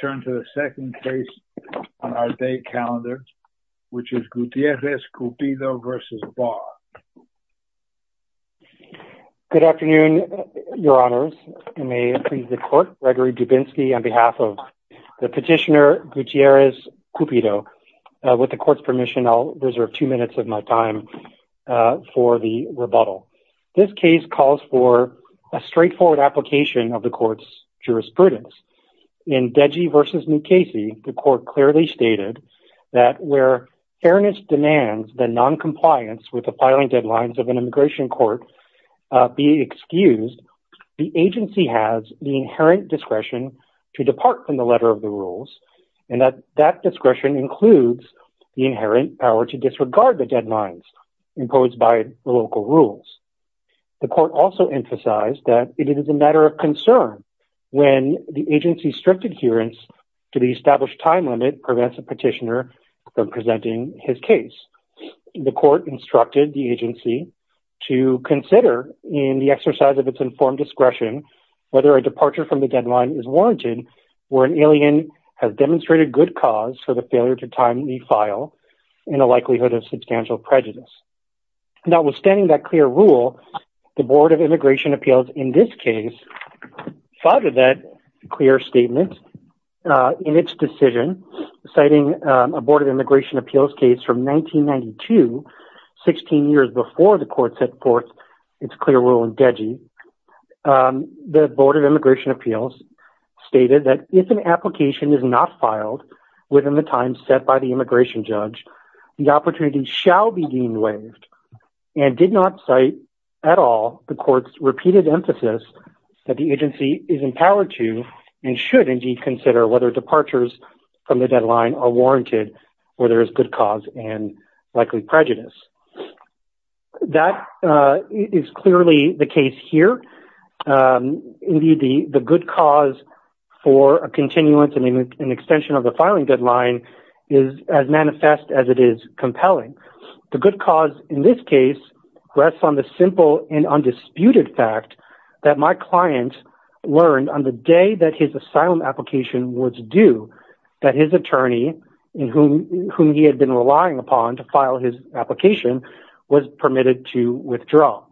Good afternoon, your honors. I may please the court, Gregory Dubinsky, on behalf of the petitioner Gutierrez-Cupido. With the court's permission, I'll reserve two minutes of my time for the rebuttal. This case calls for a straightforward application of the court's the court clearly stated that where fairness demands that noncompliance with the filing deadlines of an immigration court be excused, the agency has the inherent discretion to depart from the letter of the rules, and that that discretion includes the inherent power to disregard the deadlines imposed by the local rules. The court also emphasized that it is a matter of concern when the agency's strict adherence to the established time limit prevents the petitioner from presenting his case. The court instructed the agency to consider in the exercise of its informed discretion whether a departure from the deadline is warranted where an alien has demonstrated good cause for the failure to timely file in a likelihood of substantial prejudice. Notwithstanding that clear rule, the Board of Immigration Appeals in this case followed that clear statement in its decision, citing a Board of Immigration Appeals case from 1992, 16 years before the court set forth its clear rule in DEGI. The Board of Immigration Appeals stated that if an application is not filed within the time set by the immigration judge, the opportunity shall be deemed waived and did not cite at all the court's repeated emphasis that the agency is empowered to and should indeed consider whether departures from the deadline are warranted where there is good cause and likely prejudice. That is clearly the case here. Indeed, the good cause for a continuance and extension of the filing deadline is as manifest as it is compelling. The good cause in this case rests on the simple and undisputed fact that my client learned on the day that his asylum application was due that his attorney, whom he had been relying upon to file his application, was permitted to withdraw.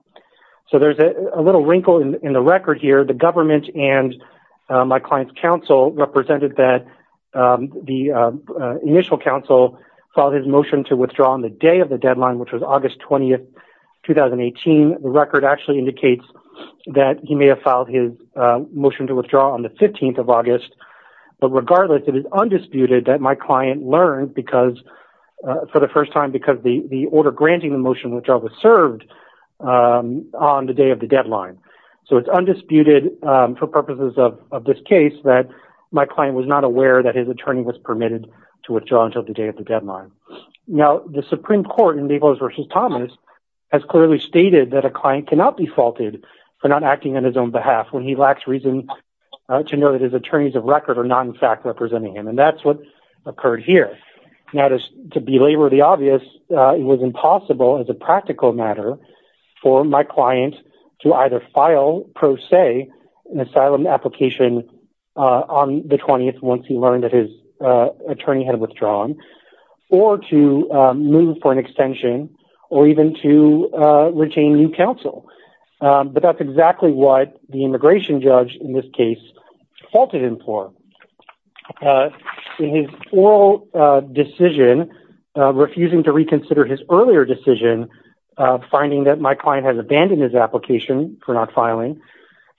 So there is a little wrinkle in the record here. The government and my client's counsel represented that the initial counsel filed his motion to withdraw on the day of the deadline, which was August 20th, 2018. The record actually indicates that he may have filed his motion to withdraw on the 15th of August. But regardless, it is undisputed that my client learned for the first time because the order granting the motion was served on the day of the deadline. So it's undisputed for purposes of this case that my client was not aware that his attorney was permitted to withdraw until the day of the deadline. Now, the Supreme Court in Begos v. Thomas has clearly stated that a client cannot be faulted for not acting on his own behalf when he lacks reason to know that his attorneys of record are not in fact representing him. And that's what occurred here. Now, to belabor the obvious, it was impossible as a practical matter for my client to either file pro se an asylum application on the 20th once he learned that his attorney had withdrawn, or to move for an extension, or even to retain new counsel. But that's exactly what the immigration judge in this case faulted him for. In his oral decision, refusing to reconsider his earlier decision finding that my client has abandoned his application for not filing,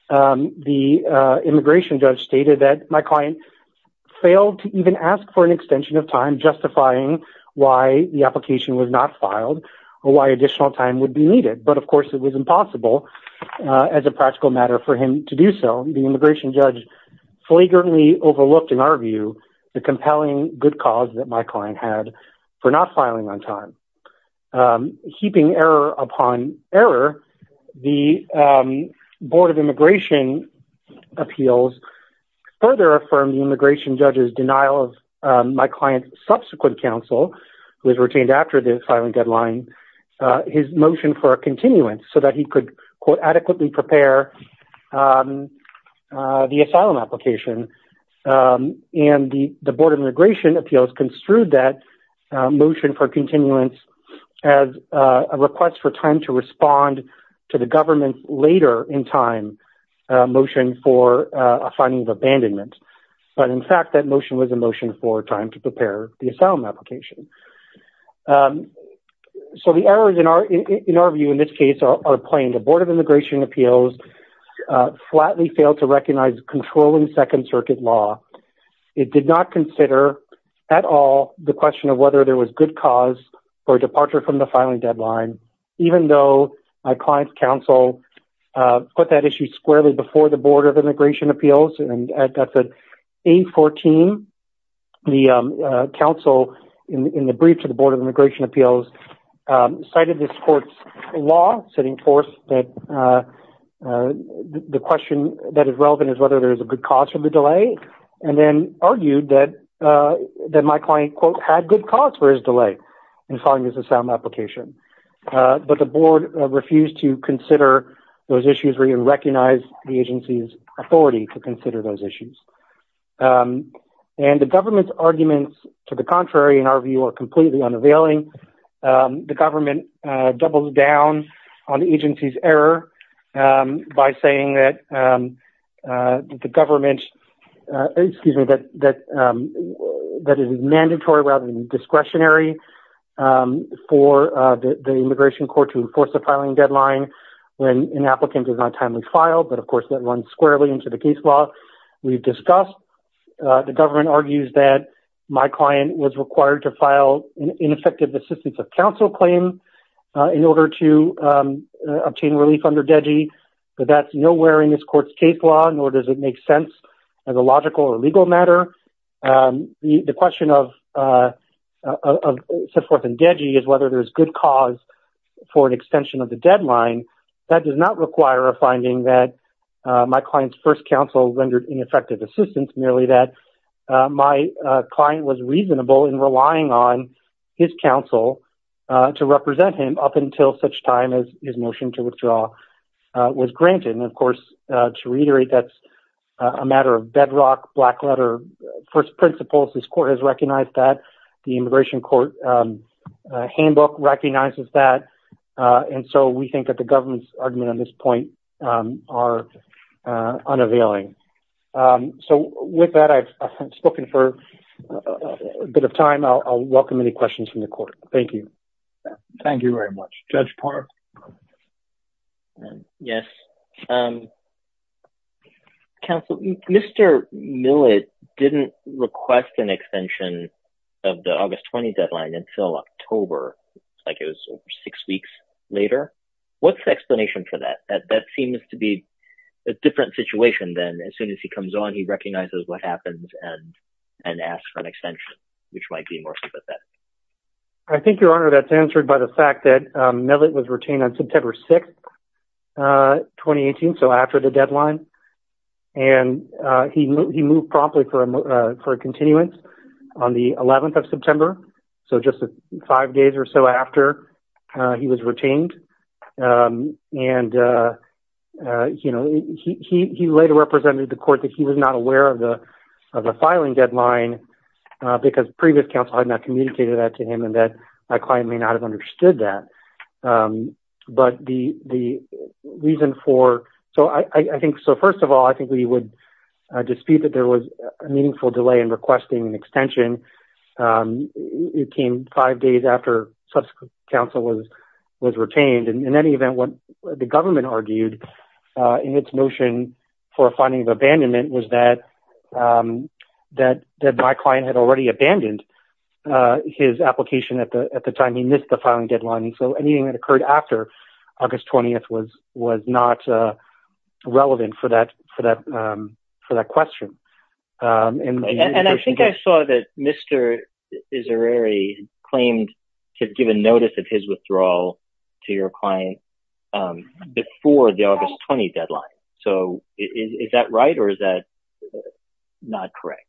the immigration judge stated that my client failed to even ask for an extension of time justifying why the application was not filed, or why additional time would be needed. But of course, it was impossible as a practical matter for him to do so. The immigration judge flagrantly overlooked, in our view, the compelling good cause that my client had for not filing on time. Heaping error upon error, the Board of Immigration Appeals further affirmed the immigration judge's denial of my client's subsequent counsel, who was retained after the filing deadline, his motion for a continuance so that he could, quote, adequately prepare the asylum application. And the Board of Immigration Appeals construed that motion for continuance as a request for time to respond to the government later in time, a motion for a finding of abandonment. But in fact, that motion was a motion for time to prepare the asylum application. So the errors, in our view, in this case, are plain. The Board of Immigration Appeals flatly failed to recognize controlling Second Circuit law. It did not consider at all the question of whether there was good cause for a departure from the filing deadline, even though my client's counsel put that issue squarely before the Board of Immigration Appeals. And at 814, the counsel, in the brief to the Board of Immigration Appeals, cited this court's law, setting forth that the question that is relevant is whether there is a good cause for the delay, and then argued that my client, quote, had good cause for his delay in filing his asylum application. But the Board refused to consider those issues and recognize the agency's authority to consider those issues. And the government's arguments to the contrary, in our view, are completely unavailing. The government doubles down on the agency's error by saying that the government, excuse me, that it is mandatory rather than discretionary for the immigration court to enforce a filing deadline when an applicant does not timely file. But of course, that runs squarely into the case law we've discussed. The government argues that my client was required to file an ineffective assistance of counsel claim in order to obtain relief under DEGI, but that's nowhere in this court's case law, nor does it make sense as a logical or legal matter. The question of set forth in DEGI is whether there's good cause for an extension of the deadline. That does not require a finding that my client's first counsel rendered ineffective assistance, merely that my client was reasonable in relying on his counsel to represent him up until such time as his motion to withdraw was granted. And of course, to reiterate, that's a matter of bedrock, black letter, first principles. This court has recognized that. The immigration court handbook recognizes that. And so we think that the government's argument on this point are unavailing. So with that, I've spoken for a bit of time. I'll welcome any questions from the court. Thank you. Thank you very much. Judge Park. Yes. Counsel, Mr. Millett didn't request an extension of the August 20 deadline until October. It's like it was six weeks later. What's the explanation for that? That seems to be a different situation than as soon as he comes on, he recognizes what happens and asks for an extension, which might be more sympathetic. I think, Your Honor, that's answered by the fact that Millett was retained on September 6, 2018, so after the deadline. And he moved promptly for a continuance on the 11th of September, so just five days or so after he was retained. And he later represented the court that he was aware of the filing deadline because previous counsel had not communicated that to him and that my client may not have understood that. But the reason for... So first of all, I think we would dispute that there was a meaningful delay in requesting an extension. It came five days after subsequent counsel was retained. And in any event, what the government argued in its notion for a finding of abandonment was that my client had already abandoned his application at the time he missed the filing deadline. And so anything that occurred after August 20 was not relevant for that question. And I think I saw that Mr. Izzereri claimed to have given notice of his Is that right or is that not correct?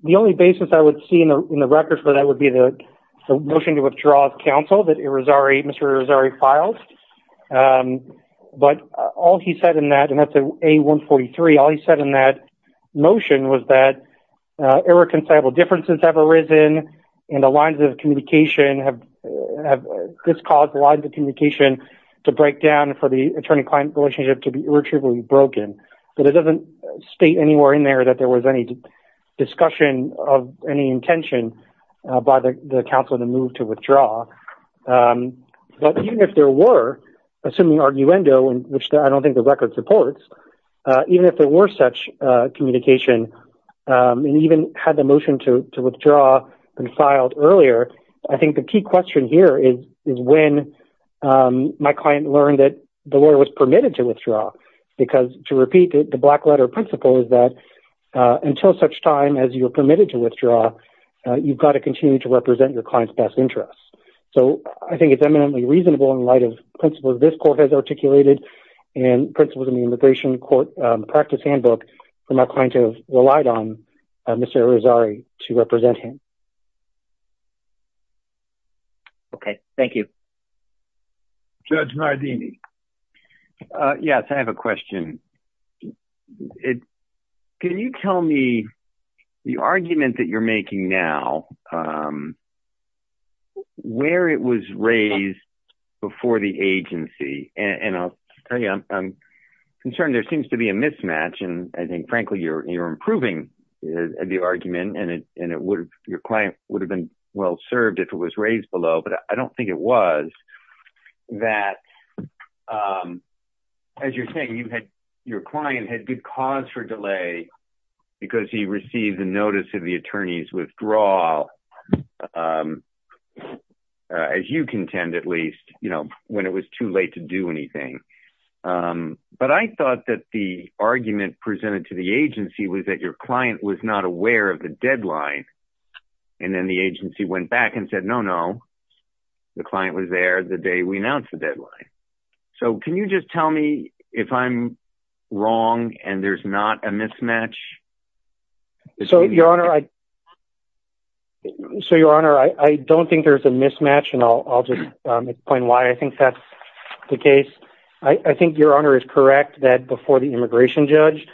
The only basis I would see in the record for that would be the motion to withdraw counsel that Mr. Izzereri filed. But all he said in that, and that's A-143, all he said in that motion was that irreconcilable differences have arisen and the lines of communication have... This caused the lines of communication to break down for the attorney-client relationship to be irreparably broken. But it doesn't state anywhere in there that there was any discussion of any intention by the counsel to move to withdraw. But even if there were, assuming arguendo, which I don't think the record supports, even if there were such communication and even had the motion to withdraw been filed earlier, I think the key question here is when my client learned that the lawyer was permitted to withdraw. Because to repeat it, the black letter principle is that until such time as you're permitted to withdraw, you've got to continue to represent your client's best interests. So I think it's eminently reasonable in light of principles this court has articulated and principles in the immigration court practice handbook for my client to have relied on Mr. Izzereri to represent him. Okay. Thank you. Judge Nardini. Yes. I have a question. Can you tell me the argument that you're making now where it was raised before the agency? And I'll tell you, I'm concerned there seems to be a mismatch. And I think, frankly, you're improving the argument and your client would have been well served if it was raised below. But I don't think it was that, as you're saying, your client had good cause for delay because he received the notice of the attorney's withdrawal, as you contend at least, when it was too late to do anything. But I thought that the argument presented to the agency was that your client was not aware of the back and said, no, no. The client was there the day we announced the deadline. So can you just tell me if I'm wrong and there's not a mismatch? So, your honor, I don't think there's a mismatch and I'll just explain why I think that's the case. I think your honor is correct that before the immigration judge,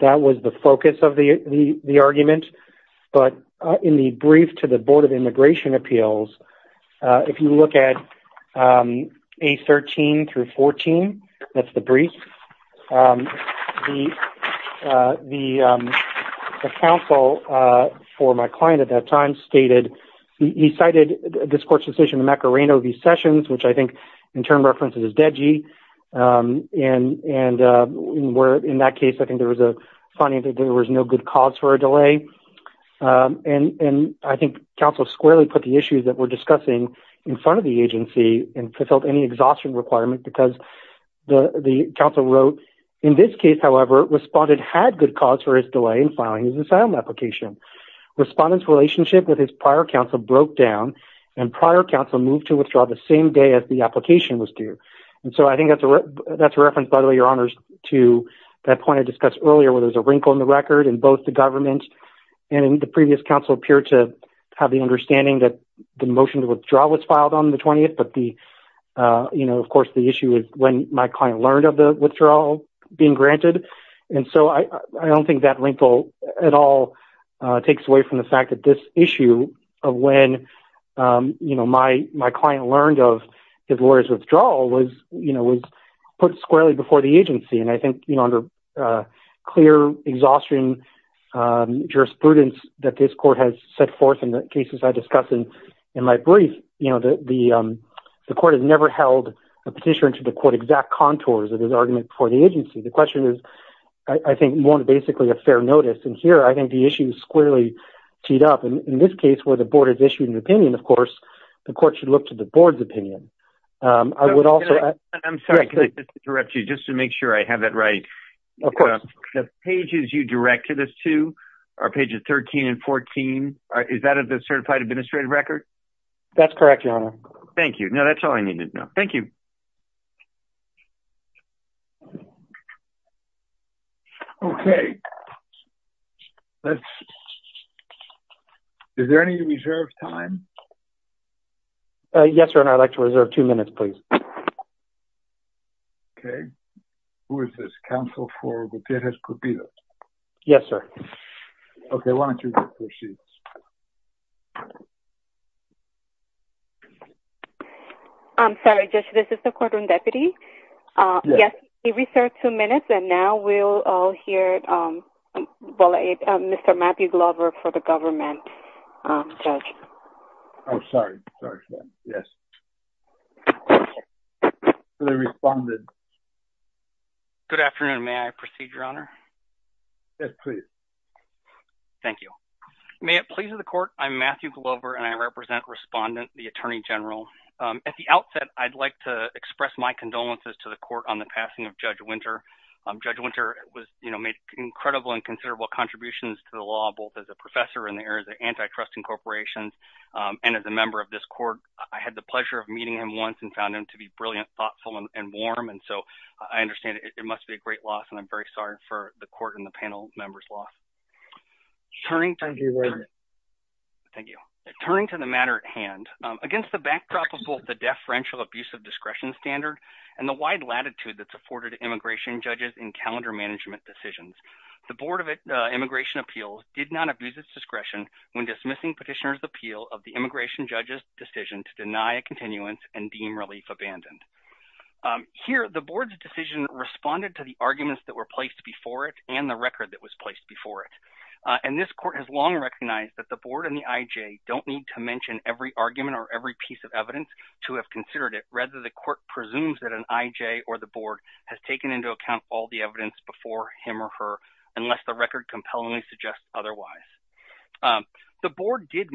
that was the focus of the immigration appeals. If you look at A13 through 14, that's the brief, the counsel for my client at that time stated, he cited this court's decision in Macarena v. Sessions, which I think in turn references is Deji. And in that case, I think there was a finding that there was no good cause for a delay. And I think counsel squarely put the issues that we're discussing in front of the agency and fulfilled any exhaustion requirement because the counsel wrote, in this case, however, respondent had good cause for his delay in filing his asylum application. Respondent's relationship with his prior counsel broke down and prior counsel moved to withdraw the same day as the application was due. And so I think that's a reference, by the way, your honors to that point discussed earlier where there's a wrinkle in the record in both the government and the previous counsel appear to have the understanding that the motion to withdraw was filed on the 20th. But the, you know, of course, the issue is when my client learned of the withdrawal being granted. And so I don't think that wrinkle at all takes away from the fact that this issue of when, you know, my client learned of his lawyer's withdrawal was, you know, was put squarely before the agency. And I think, you know, under clear, exhausting jurisprudence that this court has set forth in the cases I discussed in my brief, you know, the court has never held a petitioner to the court exact contours of his argument for the agency. The question is, I think, more than basically a fair notice. And here, I think the issue is squarely teed up. And in this case, where the board has issued an opinion, of course, the court should look to the board's opinion. I would also- Of course. The pages you directed us to are pages 13 and 14. Is that a certified administrative record? That's correct, your honor. Thank you. Now, that's all I needed to know. Thank you. Okay. Is there any reserve time? Yes, your honor. I'd like to reserve two minutes, please. Okay. Who is this? Counsel for Gutierrez-Cupido? Yes, sir. Okay. Why don't you proceed? I'm sorry, Judge. This is the courtroom deputy. Yes, he reserved two minutes. And now we'll all hear Mr. Matthew Glover for the government, Judge. Oh, sorry. Sorry for that. Yes. The respondent. Good afternoon. May I proceed, your honor? Yes, please. Thank you. May it please the court, I'm Matthew Glover, and I represent respondent, the attorney general. At the outset, I'd like to express my condolences to the court on the passing of Judge Winter. Judge Winter made incredible and considerable contributions to the law, both as a professor in the areas of antitrust incorporations and as a member of this court. I had the pleasure meeting him once and found him to be brilliant, thoughtful, and warm. And so I understand it must be a great loss. And I'm very sorry for the court and the panel members lost. Turning to the matter at hand, against the backdrop of both the deaf, friendship, abuse of discretion standard, and the wide latitude that's afforded immigration judges in calendar management decisions, the Board of Immigration Appeals did not abuse its discretion when dismissing petitioners appeal of the immigration judge's decision to deny a continuance and deem relief abandoned. Here, the board's decision responded to the arguments that were placed before it and the record that was placed before it. And this court has long recognized that the board and the IJ don't need to mention every argument or every piece of evidence to have considered it, rather the court presumes that an IJ or the board has taken into account all the evidence before him or her, unless the record compellingly suggests otherwise. The board did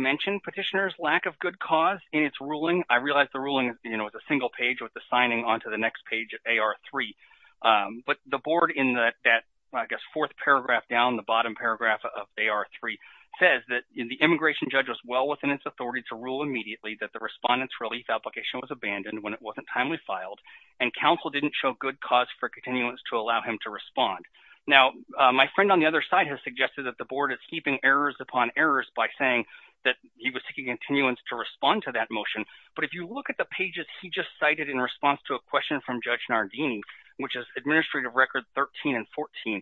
petitioners lack of good cause in its ruling. I realize the ruling, you know, is a single page with the signing onto the next page of AR3. But the board in that, I guess, fourth paragraph down, the bottom paragraph of AR3, says that the immigration judge was well within its authority to rule immediately that the respondent's relief application was abandoned when it wasn't timely filed and counsel didn't show good cause for continuance to allow him to respond. Now, my friend on the other side has suggested that the board is keeping errors upon errors by saying that he was taking continuance to respond to that motion. But if you look at the pages he just cited in response to a question from Judge Nardini, which is Administrative Record 13 and 14,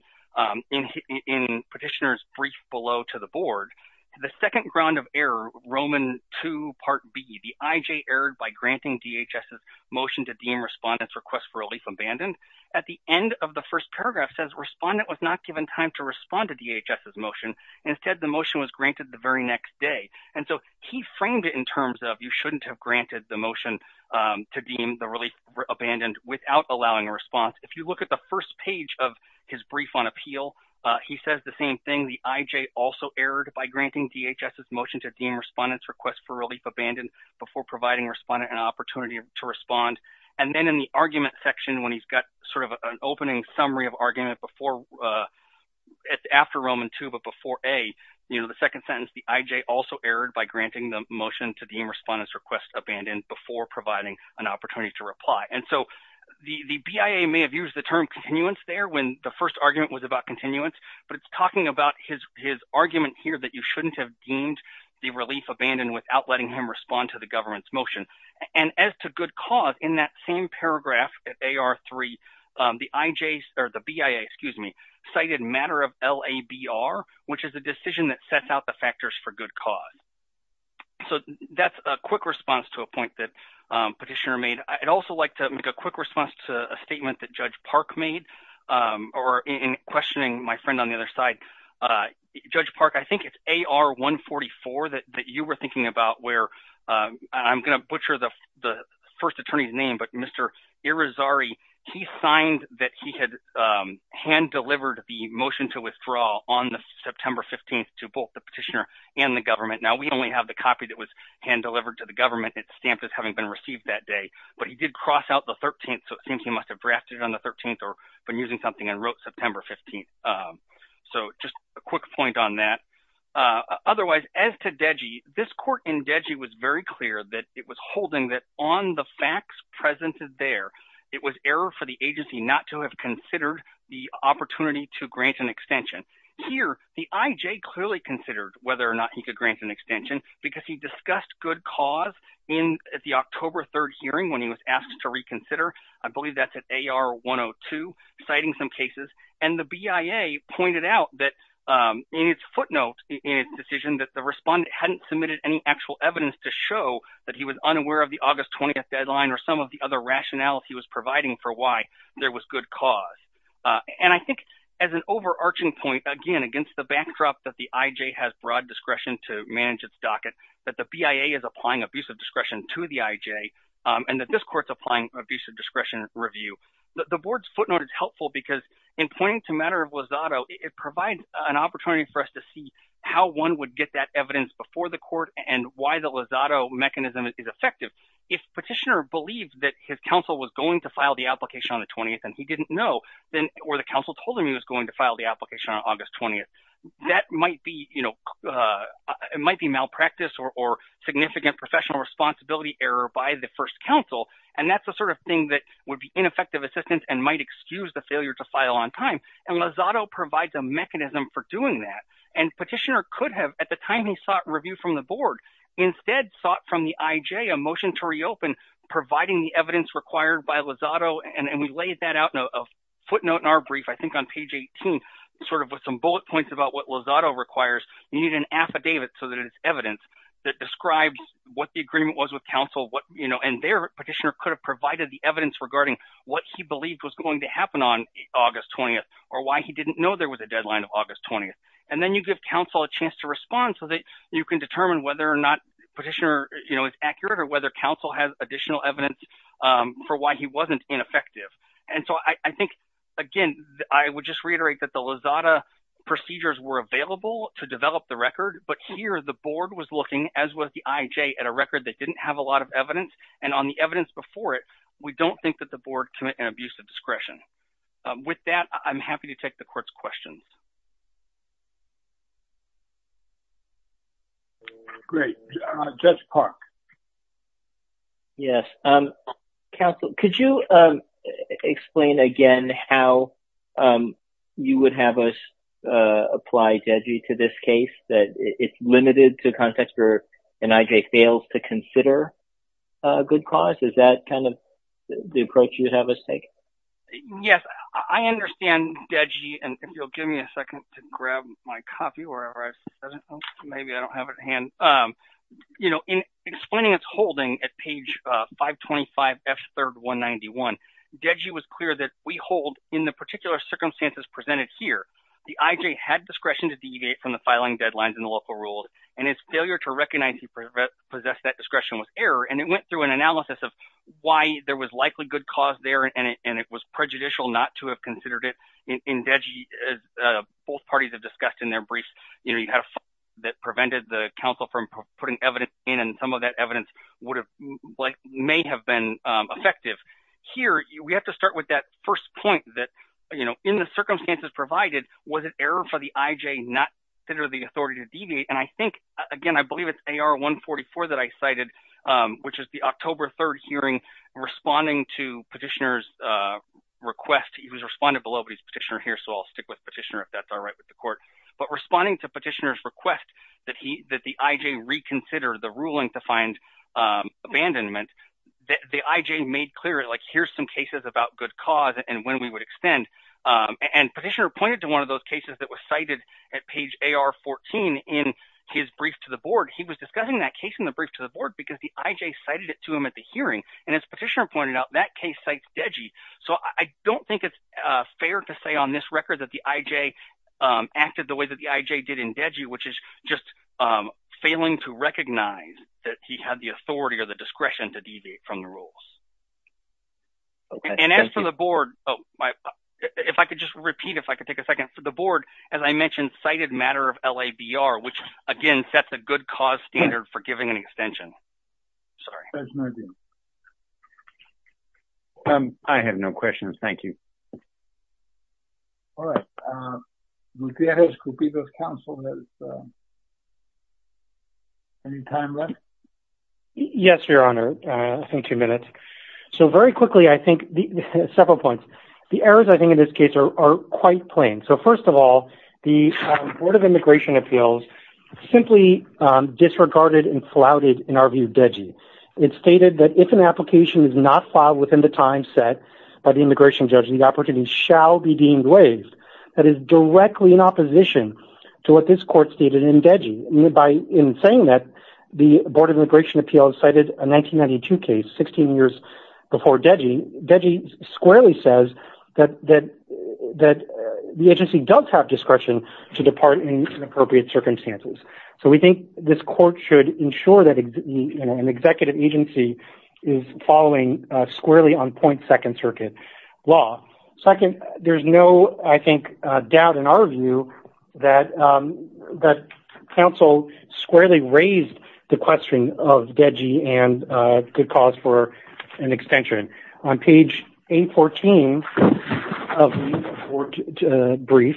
in petitioner's brief below to the board, the second ground of error, Roman 2, Part B, the IJ erred by granting DHS's motion to deem respondent's request for relief abandoned. At the end of the first paragraph, it says respondent was not given time to respond to DHS's motion. Instead, the And so he framed it in terms of you shouldn't have granted the motion to deem the relief abandoned without allowing a response. If you look at the first page of his brief on appeal, he says the same thing. The IJ also erred by granting DHS's motion to deem respondent's request for relief abandoned before providing respondent an opportunity to respond. And then in the argument section, when he's got sort of an opening summary of argument before, it's after Roman 2, but before A, you know, the second sentence, the IJ also erred by granting the motion to deem respondent's request abandoned before providing an opportunity to reply. And so the BIA may have used the term continuance there when the first argument was about continuance, but it's talking about his argument here that you shouldn't have deemed the relief abandoned without letting him respond to the government's motion. And as to good cause, in that same cited matter of LABR, which is a decision that sets out the factors for good cause. So that's a quick response to a point that Petitioner made. I'd also like to make a quick response to a statement that Judge Park made or in questioning my friend on the other side. Judge Park, I think it's AR 144 that you were thinking about where I'm going to butcher the to withdraw on the September 15th to both the petitioner and the government. Now, we only have the copy that was hand delivered to the government. It's stamped as having been received that day, but he did cross out the 13th. So it seems he must have drafted it on the 13th or been using something and wrote September 15th. So just a quick point on that. Otherwise, as to Deji, this court in Deji was very clear that it was holding that on the facts presented there, it was error for the agency not to have considered the opportunity to grant an extension. Here, the IJ clearly considered whether or not he could grant an extension because he discussed good cause in the October 3rd hearing when he was asked to reconsider. I believe that's at AR 102, citing some cases. And the BIA pointed out that in its footnote, in its decision that the respondent hadn't submitted any actual evidence to show that he was unaware of the August 20th for why there was good cause. And I think as an overarching point, again, against the backdrop that the IJ has broad discretion to manage its docket, that the BIA is applying abusive discretion to the IJ and that this court's applying abusive discretion review. The board's footnote is helpful because in pointing to matter of Lozado, it provides an opportunity for us to see how one would get that evidence before the court and why the Lozado mechanism is effective. If petitioner believes that his counsel was going to file the application on the 20th, and he didn't know, or the counsel told him he was going to file the application on August 20th, that might be malpractice or significant professional responsibility error by the first counsel. And that's the sort of thing that would be ineffective assistance and might excuse the failure to file on time. And Lozado provides a mechanism for doing that. And petitioner could at the time he sought review from the board, instead sought from the IJ a motion to reopen, providing the evidence required by Lozado. And we laid that out in a footnote in our brief, I think on page 18, sort of with some bullet points about what Lozado requires. You need an affidavit so that it's evidence that describes what the agreement was with counsel, and their petitioner could have provided the evidence regarding what he believed was going to happen on August 20th, or why he didn't know there was a deadline of August 20th. And then you give counsel a chance to respond so that you can determine whether or not petitioner is accurate, or whether counsel has additional evidence for why he wasn't ineffective. And so I think, again, I would just reiterate that the Lozado procedures were available to develop the record. But here, the board was looking, as was the IJ, at a record that didn't have a lot of evidence. And on the evidence before it, we don't think that the board commit an abuse of discretion. With that, I'm happy to take the court's questions. Great. Judge Park. Yes. Counsel, could you explain again how you would have us apply DEGI to this case, that it's limited to context, or an IJ fails to consider a good cause? Is that kind of the approach you would have us take? Yes. I understand DEGI. And if you'll give me a rise. Maybe I don't have it in hand. You know, in explaining its holding at page 525F3191, DEGI was clear that we hold, in the particular circumstances presented here, the IJ had discretion to deviate from the filing deadlines in the local rule, and its failure to recognize he possessed that discretion was error. And it went through an analysis of why there was likely good cause there, and it was prejudicial not to have considered it in DEGI, as both parties have had a fight that prevented the counsel from putting evidence in, and some of that evidence may have been effective. Here, we have to start with that first point that, you know, in the circumstances provided, was it error for the IJ not to consider the authority to deviate? And I think, again, I believe it's AR144 that I cited, which is the October 3rd hearing, responding to petitioner's request. He was responding below, but he's a petitioner here, so I'll stick with petitioner if that's all right with the court. But responding to petitioner's request that the IJ reconsider the ruling to find abandonment, the IJ made clear, like, here's some cases about good cause and when we would extend. And petitioner pointed to one of those cases that was cited at page AR14 in his brief to the board. He was discussing that case in the brief to the board because the IJ cited it to him at the hearing, and as petitioner pointed out, that case cites DEGI, so I don't think it's fair to say on this record that the IJ acted the way that the IJ did in DEGI, which is just failing to recognize that he had the authority or the discretion to deviate from the rules. And as for the board, if I could just repeat, if I could take a second, for the board, as I mentioned, cited matter of LABR, which, again, sets a good cause for giving an extension. Sorry. I have no questions. Thank you. All right. Any time left? Yes, your honor. I think two minutes. So very quickly, I think several points. The errors I think in this case are quite plain. So first of all, the Board of Immigration Appeals simply disregarded and flouted, in our view, DEGI. It stated that if an application is not filed within the time set by the immigration judge, the opportunity shall be deemed waived. That is directly in opposition to what this court stated in DEGI. In saying that, the Board of Immigration Appeals cited a 1992 case, 16 years before DEGI. DEGI squarely says that the agency does have discretion to depart in appropriate circumstances. So we think this court should ensure that an executive agency is following squarely on point second circuit law. Second, there's no, I think, doubt in our view that counsel squarely raised the question of DEGI and good cause for an extension. On page 814 of the brief,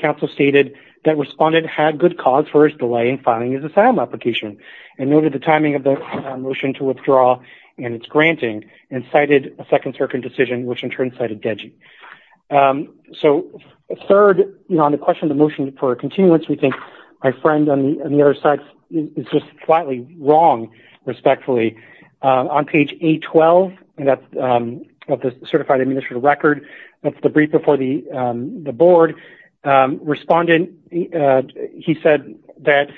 counsel stated that respondent had good cause for his delay in filing his asylum application and noted the timing of the motion to withdraw and its granting and a second circuit decision, which in turn cited DEGI. So third, on the question of the motion for a continuance, we think my friend on the other side is just slightly wrong, respectfully. On page 812 of the certified administrative record, that's the brief before the Board, respondent, he said that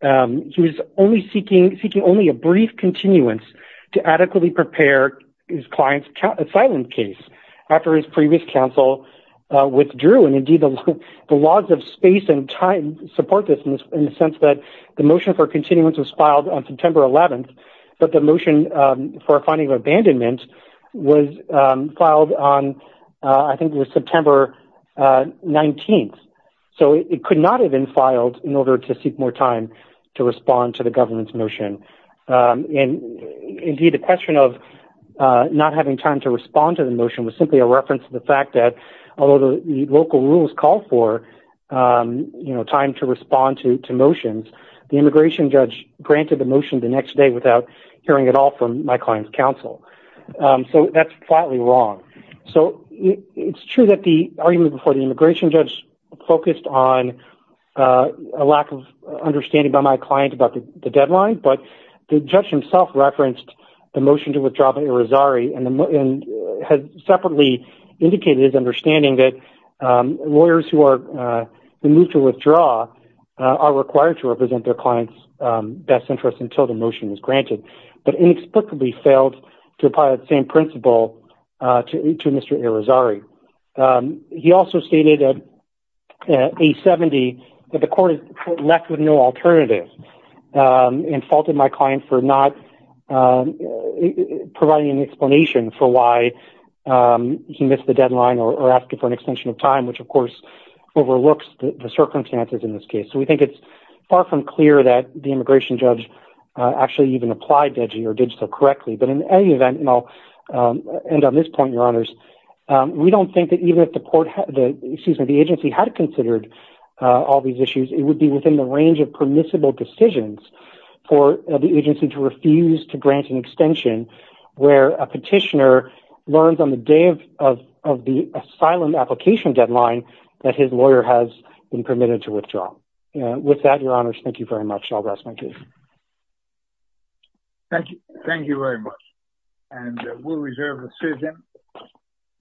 he was only seeking, seeking only a brief continuance to adequately prepare his client's asylum case after his previous counsel withdrew. And indeed, the laws of space and time support this in the sense that the motion for continuance was filed on September 11th, but the motion for a finding of abandonment was filed on, I think it was September 19th. So it could not have been filed in order to seek more time to respond to the government's motion. And indeed, the question of not having time to respond to the motion was simply a reference to the fact that although the local rules call for, you know, time to respond to motions, the immigration judge granted the motion the next day without hearing at all from my client's counsel. So that's flatly wrong. So it's true that the argument before the immigration judge focused on a lack of understanding by my client about the deadline, but the judge himself referenced the motion to withdraw by Irizarry and has separately indicated his understanding that lawyers who are in need to withdraw are required to represent their client's best interest until the motion is granted, but inexplicably failed to apply that same principle to Mr. Irizarry. He also stated at 870 that the court is left with no alternative and faulted my client for not providing an explanation for why he missed the deadline or asking for an extension of time, which of course overlooks the circumstances in this case. So we think it's far from clear that the immigration judge actually even applied DEGI or did so correctly. But in any event, and I'll we don't think that even if the agency had considered all these issues, it would be within the range of permissible decisions for the agency to refuse to grant an extension where a petitioner learns on the day of the asylum application deadline that his lawyer has been permitted to withdraw. With that, your honors, thank you very much. I'll rest my case. Thank you. Thank you very much. And we'll reserve the session.